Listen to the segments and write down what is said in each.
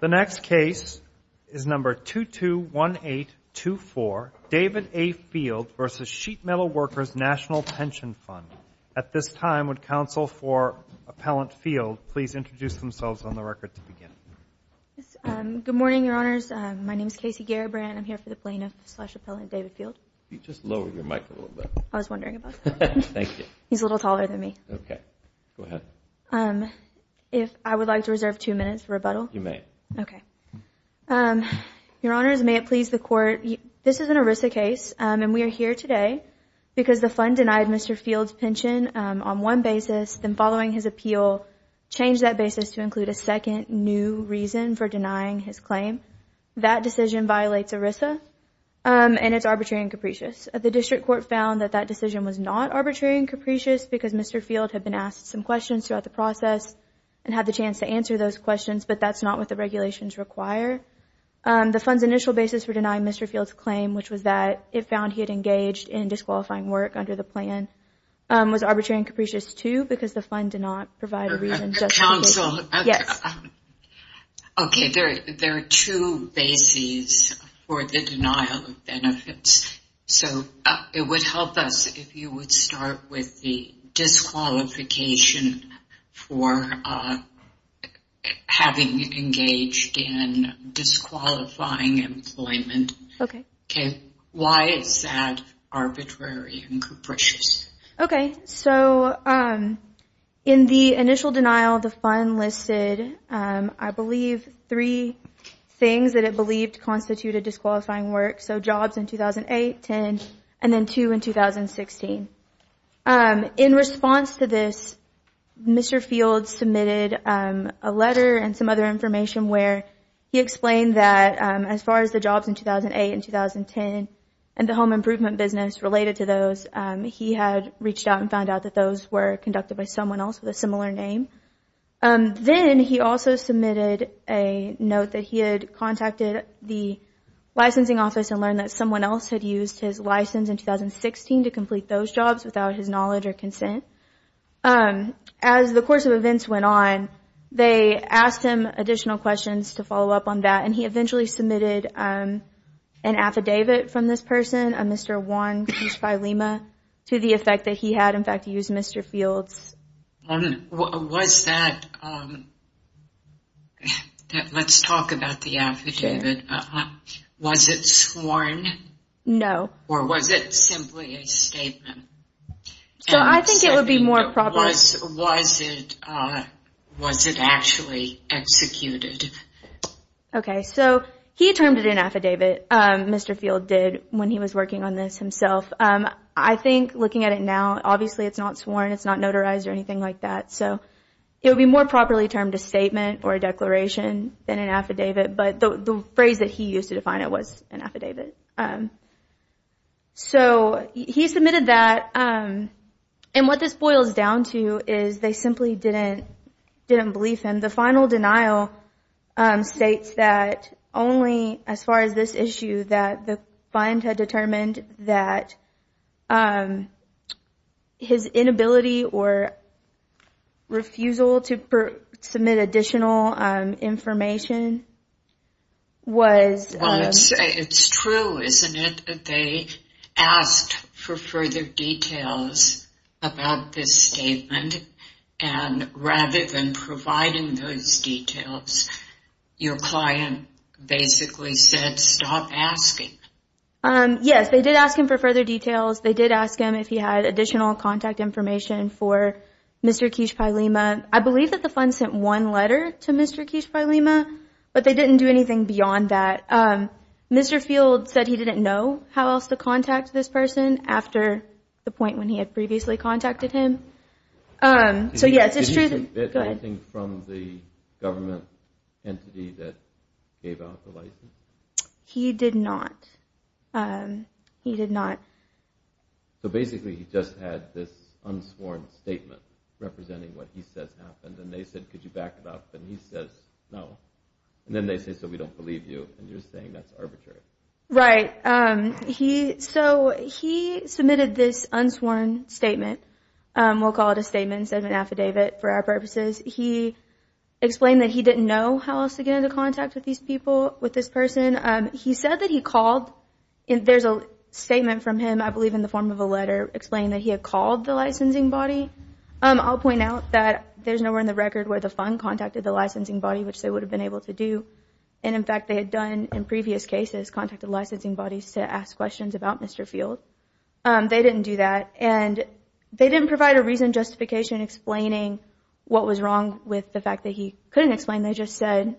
The next case is number 221824, David A. Field v. Sheet Metal Workers' Nat'l Pension Fund. At this time, would counsel for Appellant Field please introduce themselves on the record to begin? Good morning, Your Honors. My name is Casey Garibrand. I'm here for the plaintiff-slash-appellant David Field. Could you just lower your mic a little bit? I was wondering about that. Thank you. He's a little taller than me. If I would like to reserve two minutes for rebuttal. You may. Okay. Your Honors, may it please the Court. This is an ERISA case, and we are here today because the fund denied Mr. Field's pension on one basis, then following his appeal changed that basis to include a second new reason for denying his claim. That decision violates ERISA, and it's arbitrary and capricious. The District Court found that that decision was not arbitrary and capricious because Mr. Field had been asked some questions throughout the process and had the chance to answer those questions, but that's not what the regulations require. The fund's initial basis for denying Mr. Field's claim, which was that it found he had engaged in disqualifying work under the plan, was arbitrary and capricious, too, because the fund did not provide a reason. Counsel. Yes. Okay. There are two bases for the denial of benefits. So it would help us if you would start with the disqualification for having engaged in disqualifying employment. Okay. Why is that arbitrary and capricious? Okay. So in the initial denial, the fund listed, I believe, three things that it believed constituted disqualifying work. So jobs in 2008, 10, and then two in 2016. In response to this, Mr. Field submitted a letter and some other information where he explained that as far as the jobs in 2008 and 2010 and the home improvement business related to those, he had reached out and found out that those were conducted by someone else with a similar name. Then he also submitted a note that he had contacted the licensing office and learned that someone else had used his license in 2016 to complete those jobs without his knowledge or consent. As the course of events went on, they asked him additional questions to follow up on that, and he eventually submitted an affidavit from this person, a Mr. Wong, to the effect that he had, in fact, used Mr. Field's. Let's talk about the affidavit. Was it sworn? No. Or was it simply a statement? I think it would be more probable. Was it actually executed? Okay. He termed it an affidavit, Mr. Field did, when he was working on this himself. I think looking at it now, obviously it's not sworn, it's not notarized or anything like that. It would be more properly termed a statement or a declaration than an affidavit, but the phrase that he used to define it was an affidavit. He submitted that, and what this boils down to is they simply didn't believe him. The final denial states that only as far as this issue, that the fund had determined that his inability or refusal to submit additional information was... It's true, isn't it, that they asked for further details about this statement, and rather than providing those details, your client basically said, stop asking. Yes, they did ask him for further details. They did ask him if he had additional contact information for Mr. Kishpailima. I believe that the fund sent one letter to Mr. Kishpailima, but they didn't do anything beyond that. Mr. Field said he didn't know how else to contact this person after the point when he had previously contacted him. So yes, it's true. Did he submit anything from the government entity that gave out the license? He did not. So basically he just had this unsworn statement representing what he says happened, and they said, could you back it up? And he says, no. And then they say, so we don't believe you, and you're saying that's arbitrary. Right. So he submitted this unsworn statement. We'll call it a statement instead of an affidavit for our purposes. He explained that he didn't know how else to get into contact with these people, with this person. He said that he called. There's a statement from him, I believe in the form of a letter, explaining that he had called the licensing body. I'll point out that there's nowhere in the record where the fund contacted the licensing body, which they would have been able to do, and in fact they had done in previous cases contacted licensing bodies to ask questions about Mr. Field. They didn't do that. And they didn't provide a reason, justification, explaining what was wrong with the fact that he couldn't explain. They just said,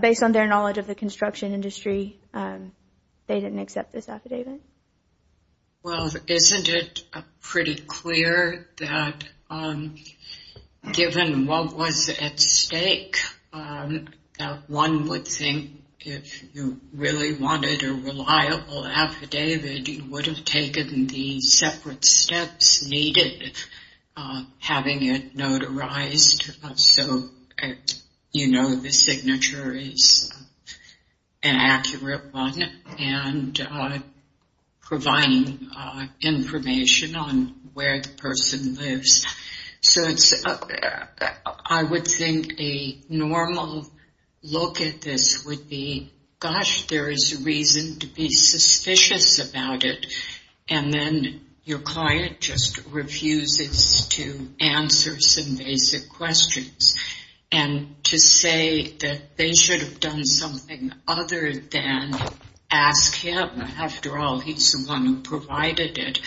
based on their knowledge of the construction industry, they didn't accept this affidavit. Well, isn't it pretty clear that given what was at stake, that one would think if you really wanted a reliable affidavit, you would have taken the separate steps needed, having it notarized, so you know the signature is an accurate one. And providing information on where the person lives. So I would think a normal look at this would be, gosh, there is a reason to be suspicious about it, and then your client just refuses to answer some basic questions. And to say that they should have done something other than ask him. After all, he's the one who provided it.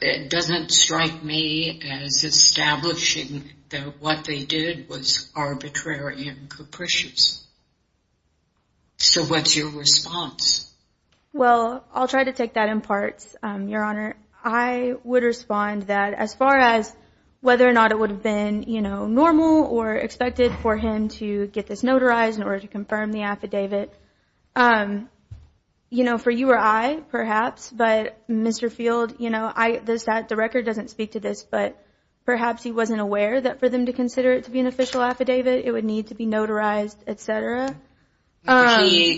It doesn't strike me as establishing that what they did was arbitrary and capricious. So what's your response? Well, I'll try to take that in parts, Your Honor. I would respond that as far as whether or not it would have been normal or expected for him to get this notarized in order to confirm the affidavit. For you or I, perhaps, but Mr. Field, the record doesn't speak to this, but perhaps he wasn't aware that for them to consider it to be an official affidavit, He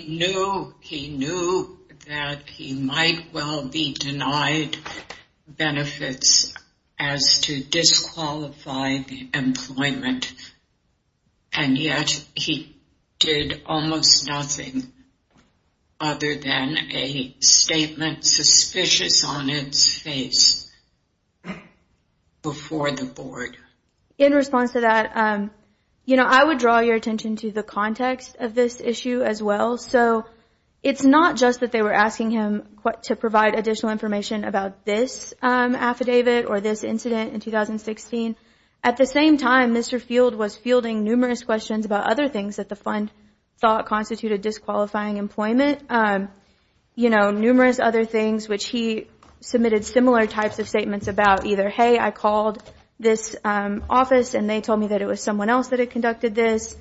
knew that he might well be denied benefits as to disqualify the employment, and yet he did almost nothing other than a statement suspicious on its face before the board. In response to that, I would draw your attention to the context of this issue as well. So it's not just that they were asking him to provide additional information about this affidavit or this incident in 2016. At the same time, Mr. Field was fielding numerous questions about other things that the fund thought constituted disqualifying employment, numerous other things which he submitted similar types of statements about, either, hey, I called this office and they told me that it was someone else that had conducted this,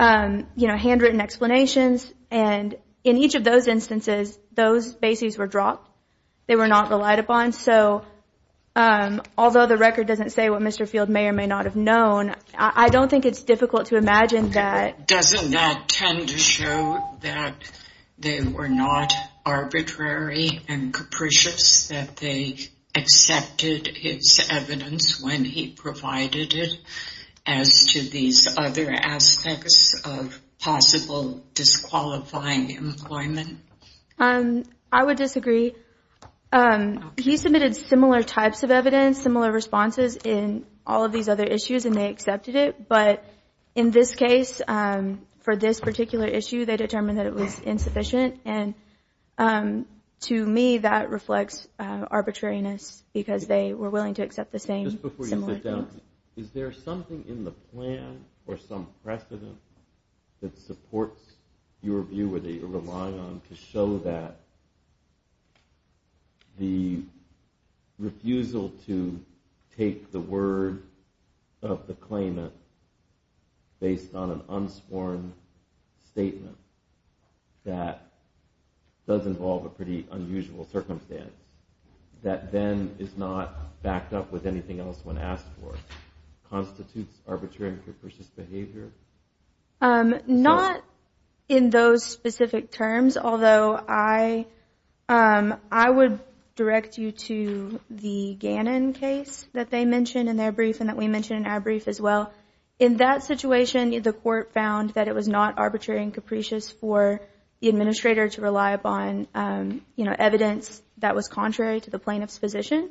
you know, handwritten explanations. And in each of those instances, those bases were dropped. They were not relied upon. So although the record doesn't say what Mr. Field may or may not have known, I don't think it's difficult to imagine that. Doesn't that tend to show that they were not arbitrary and capricious, that they accepted his evidence when he provided it as to these other aspects of possible disqualifying employment? I would disagree. He submitted similar types of evidence, similar responses in all of these other issues, and they accepted it. But in this case, for this particular issue, they determined that it was insufficient. And to me, that reflects arbitrariness because they were willing to accept the same. Just before you sit down, is there something in the plan or some precedent that supports your view or that you're relying on to show that the refusal to take the word of the claimant based on an unsworn statement that does involve a pretty unusual circumstance that then is not backed up with anything else when asked for constitutes arbitrary and capricious behavior? Not in those specific terms, although I would direct you to the Gannon case that they mentioned in their brief and that we mentioned in our brief as well. In that situation, the court found that it was not arbitrary and capricious for the administrator to rely upon evidence that was contrary to the plaintiff's position,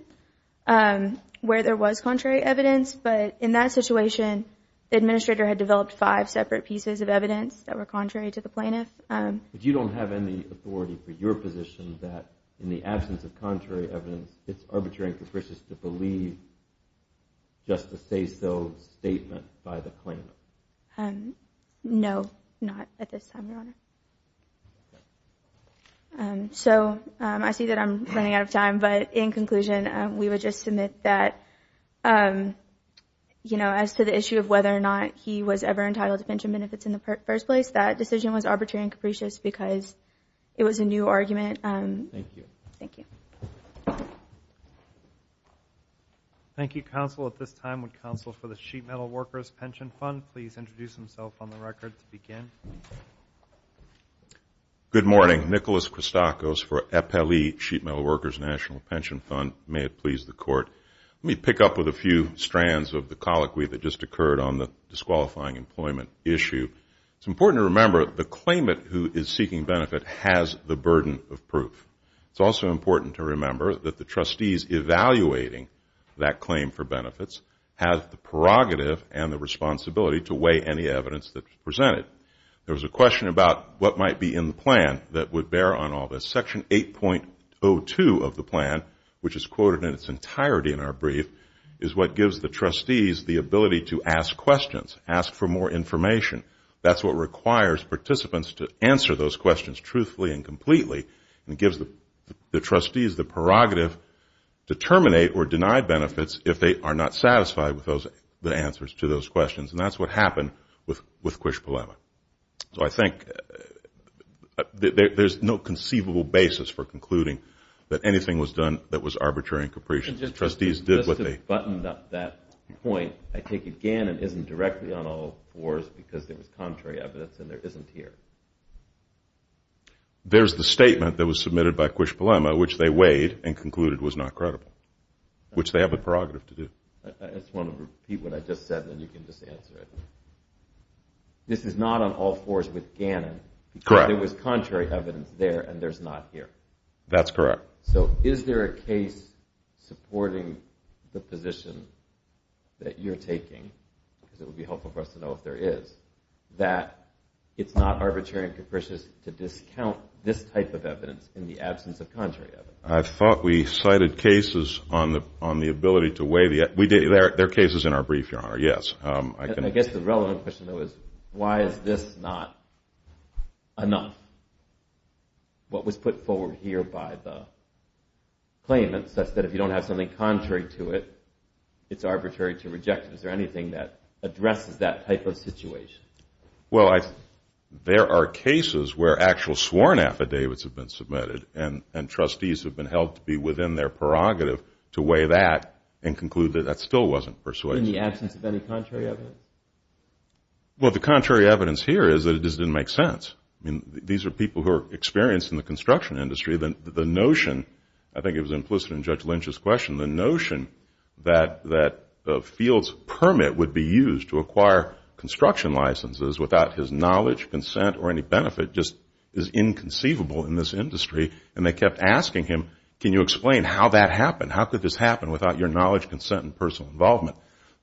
where there was contrary evidence. But in that situation, the administrator had developed five separate pieces of evidence that were contrary to the plaintiff. But you don't have any authority for your position that in the absence of contrary evidence, it's arbitrary and capricious to believe just a say-so statement by the claimant? No, not at this time, Your Honor. So I see that I'm running out of time, but in conclusion, we would just submit that, you know, as to the issue of whether or not he was ever entitled to pension benefits in the first place, that decision was arbitrary and capricious because it was a new argument. Thank you. Thank you. Thank you, counsel. At this time, would counsel for the Sheet Metal Workers Pension Fund please introduce himself on the record to begin? Good morning. Nicholas Christakos for Eppeli Sheet Metal Workers National Pension Fund. May it please the Court. Let me pick up with a few strands of the colloquy that just occurred on the disqualifying employment issue. It's important to remember the claimant who is seeking benefit has the burden of proof. It's also important to remember that the trustees evaluating that claim for benefits have the prerogative and the responsibility to weigh any evidence that's presented. There was a question about what might be in the plan that would bear on all this. Section 8.02 of the plan, which is quoted in its entirety in our brief, is what gives the trustees the ability to ask questions, ask for more information. That's what requires participants to answer those questions truthfully and completely and gives the trustees the prerogative to terminate or deny benefits if they are not satisfied with the answers to those questions. And that's what happened with Quish Polema. So I think there's no conceivable basis for concluding that anything was done that was arbitrary and capricious. Just to button up that point, I take it Gannon isn't directly on all fours because there was contrary evidence and there isn't here. There's the statement that was submitted by Quish Polema, which they weighed and concluded was not credible, which they have the prerogative to do. I just want to repeat what I just said and then you can just answer it. This is not on all fours with Gannon because there was contrary evidence there and there's not here. That's correct. So is there a case supporting the position that you're taking, because it would be helpful for us to know if there is, that it's not arbitrary and capricious to discount this type of evidence in the absence of contrary evidence? I thought we cited cases on the ability to weigh the evidence. There are cases in our brief, Your Honor, yes. I guess the relevant question, though, is why is this not enough? What was put forward here by the claimant such that if you don't have something contrary to it, it's arbitrary to reject it? Is there anything that addresses that type of situation? Well, there are cases where actual sworn affidavits have been submitted and trustees have been held to be within their prerogative to weigh that and conclude that that still wasn't persuasive. In the absence of any contrary evidence? Well, the contrary evidence here is that it just didn't make sense. I mean, these are people who are experienced in the construction industry. The notion, I think it was implicit in Judge Lynch's question, the notion that a field's permit would be used to acquire construction licenses without his knowledge, consent, or any benefit just is inconceivable in this industry. And they kept asking him, can you explain how that happened? How could this happen without your knowledge, consent, and personal involvement?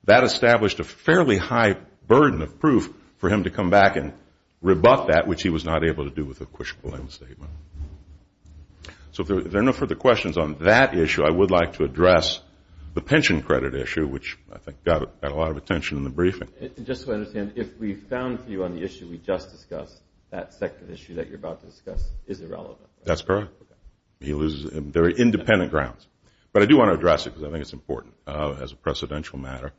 That established a fairly high burden of proof for him to come back and rebut that, which he was not able to do with a questionable end statement. So if there are no further questions on that issue, I would like to address the pension credit issue, which I think got a lot of attention in the briefing. Just to understand, if we found for you on the issue we just discussed, that second issue that you're about to discuss is irrelevant. That's correct. Okay. He loses very independent grounds. But I do want to address it because I think it's important as a precedential matter.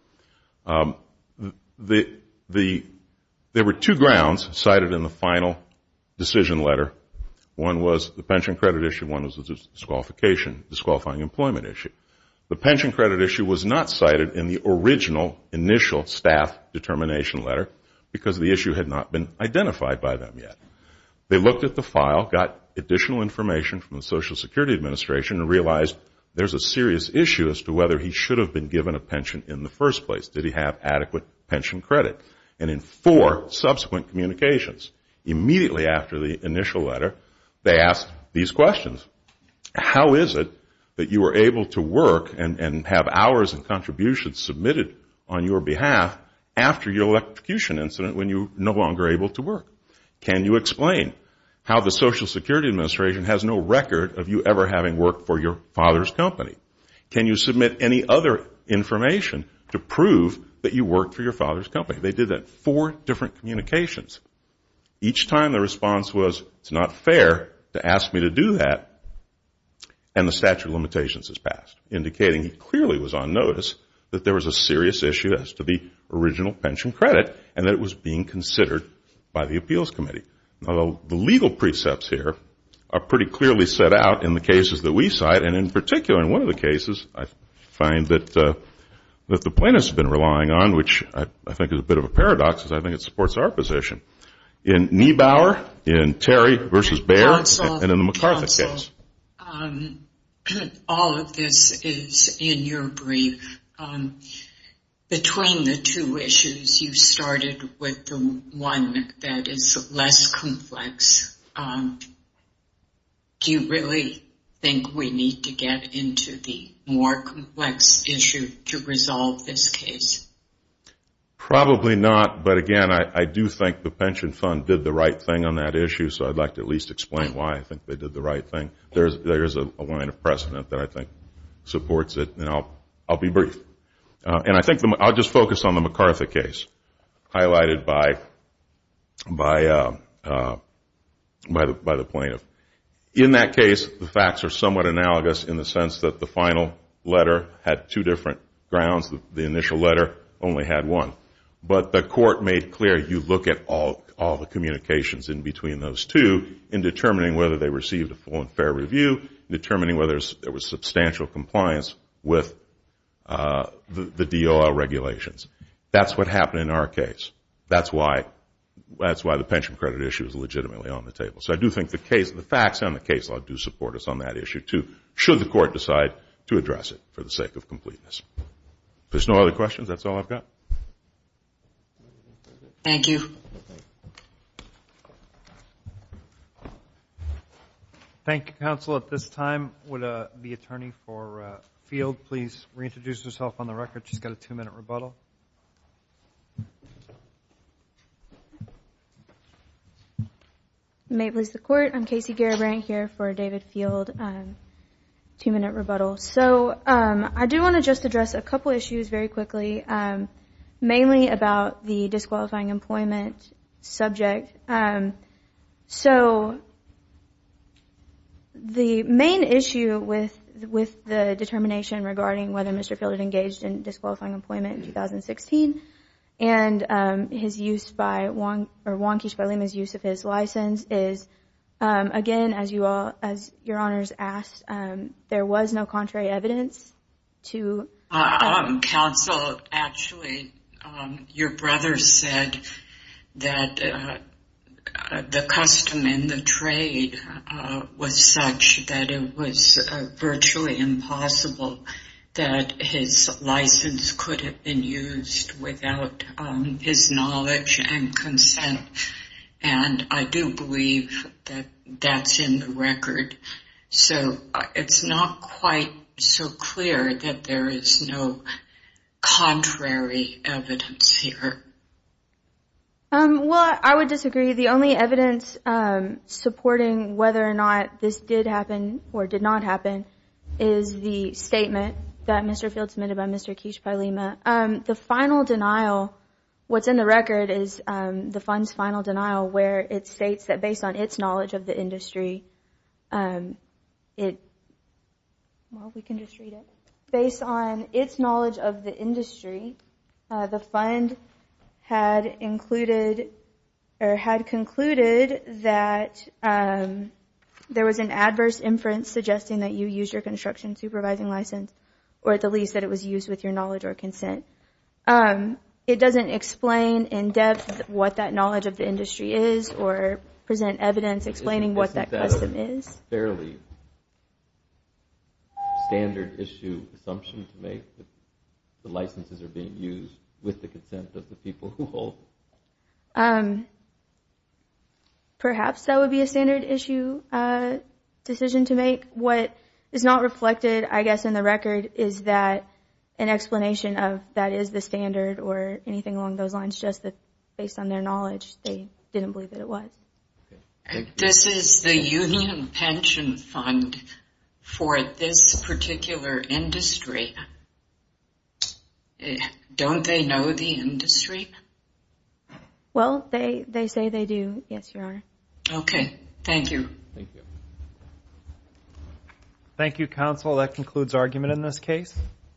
There were two grounds cited in the final decision letter. One was the pension credit issue. One was a disqualification, disqualifying employment issue. The pension credit issue was not cited in the original initial staff determination letter because the issue had not been identified by them yet. They looked at the file, got additional information from the Social Security Administration, and realized there's a serious issue as to whether he should have been given a pension in the first place. Did he have adequate pension credit? And in four subsequent communications, immediately after the initial letter, they asked these questions. How is it that you were able to work and have hours and contributions submitted on your behalf after your electrocution incident when you were no longer able to work? Can you explain how the Social Security Administration has no record of you ever having worked for your father's company? Can you submit any other information to prove that you worked for your father's company? They did that in four different communications. Each time the response was, it's not fair to ask me to do that, and the statute of limitations was passed, indicating he clearly was on notice that there was a serious issue as to the original pension credit and that it was being considered by the appeals committee. Although the legal precepts here are pretty clearly set out in the cases that we cite, and in particular in one of the cases I find that the plaintiffs have been relying on, which I think is a bit of a paradox because I think it supports our position. In Niebauer, in Terry v. Bayer, and in the MacArthur case. All of this is in your brief. Between the two issues, you started with the one that is less complex. Do you really think we need to get into the more complex issue to resolve this case? Probably not, but again, I do think the pension fund did the right thing on that issue, so I'd like to at least explain why I think they did the right thing. There is a line of precedent that I think supports it, and I'll be brief. I'll just focus on the MacArthur case, highlighted by the plaintiff. In that case, the facts are somewhat analogous in the sense that the final letter had two different grounds. The initial letter only had one. But the court made clear you look at all the communications in between those two in determining whether they received a full and fair review, determining whether there was substantial compliance with the DOL regulations. That's what happened in our case. That's why the pension credit issue is legitimately on the table. So I do think the facts and the case law do support us on that issue too, should the court decide to address it for the sake of completeness. If there's no other questions, that's all I've got. Thank you. Thank you, counsel. At this time, would the attorney for Field please reintroduce herself on the record? She's got a two-minute rebuttal. May it please the Court. I'm Casey Garibrand here for David Field. Two-minute rebuttal. So I do want to just address a couple of issues very quickly, mainly about the disqualifying employment subject. So the main issue with the determination regarding whether Mr. Field had engaged in disqualifying employment in 2016 and his use by Wong or Wong-Keach-Balema's use of his license is, again, as your honors asked, there was no contrary evidence to. Counsel, actually, your brother said that the custom in the trade was such that it was virtually impossible that his license could have been used without his knowledge and consent. And I do believe that that's in the record. So it's not quite so clear that there is no contrary evidence here. Well, I would disagree. The only evidence supporting whether or not this did happen or did not happen is the statement that Mr. Field submitted by Mr. Keach-Balema. The final denial, what's in the record is the fund's final denial where it states that based on its knowledge of the industry, it – well, we can just read it. Based on its knowledge of the industry, the fund had included or had concluded that there was an adverse inference suggesting that you used your construction supervising license or at the least that it was used with your knowledge or consent. It doesn't explain in depth what that knowledge of the industry is or present evidence explaining what that custom is. Isn't that a fairly standard-issue assumption to make, that the licenses are being used with the consent of the people who hold them? Perhaps that would be a standard-issue decision to make. I think what is not reflected, I guess, in the record is that an explanation of that is the standard or anything along those lines, just that based on their knowledge, they didn't believe that it was. This is the union pension fund for this particular industry. Don't they know the industry? Well, they say they do, yes, Your Honor. Okay. Thank you. Thank you, counsel. That concludes argument in this case.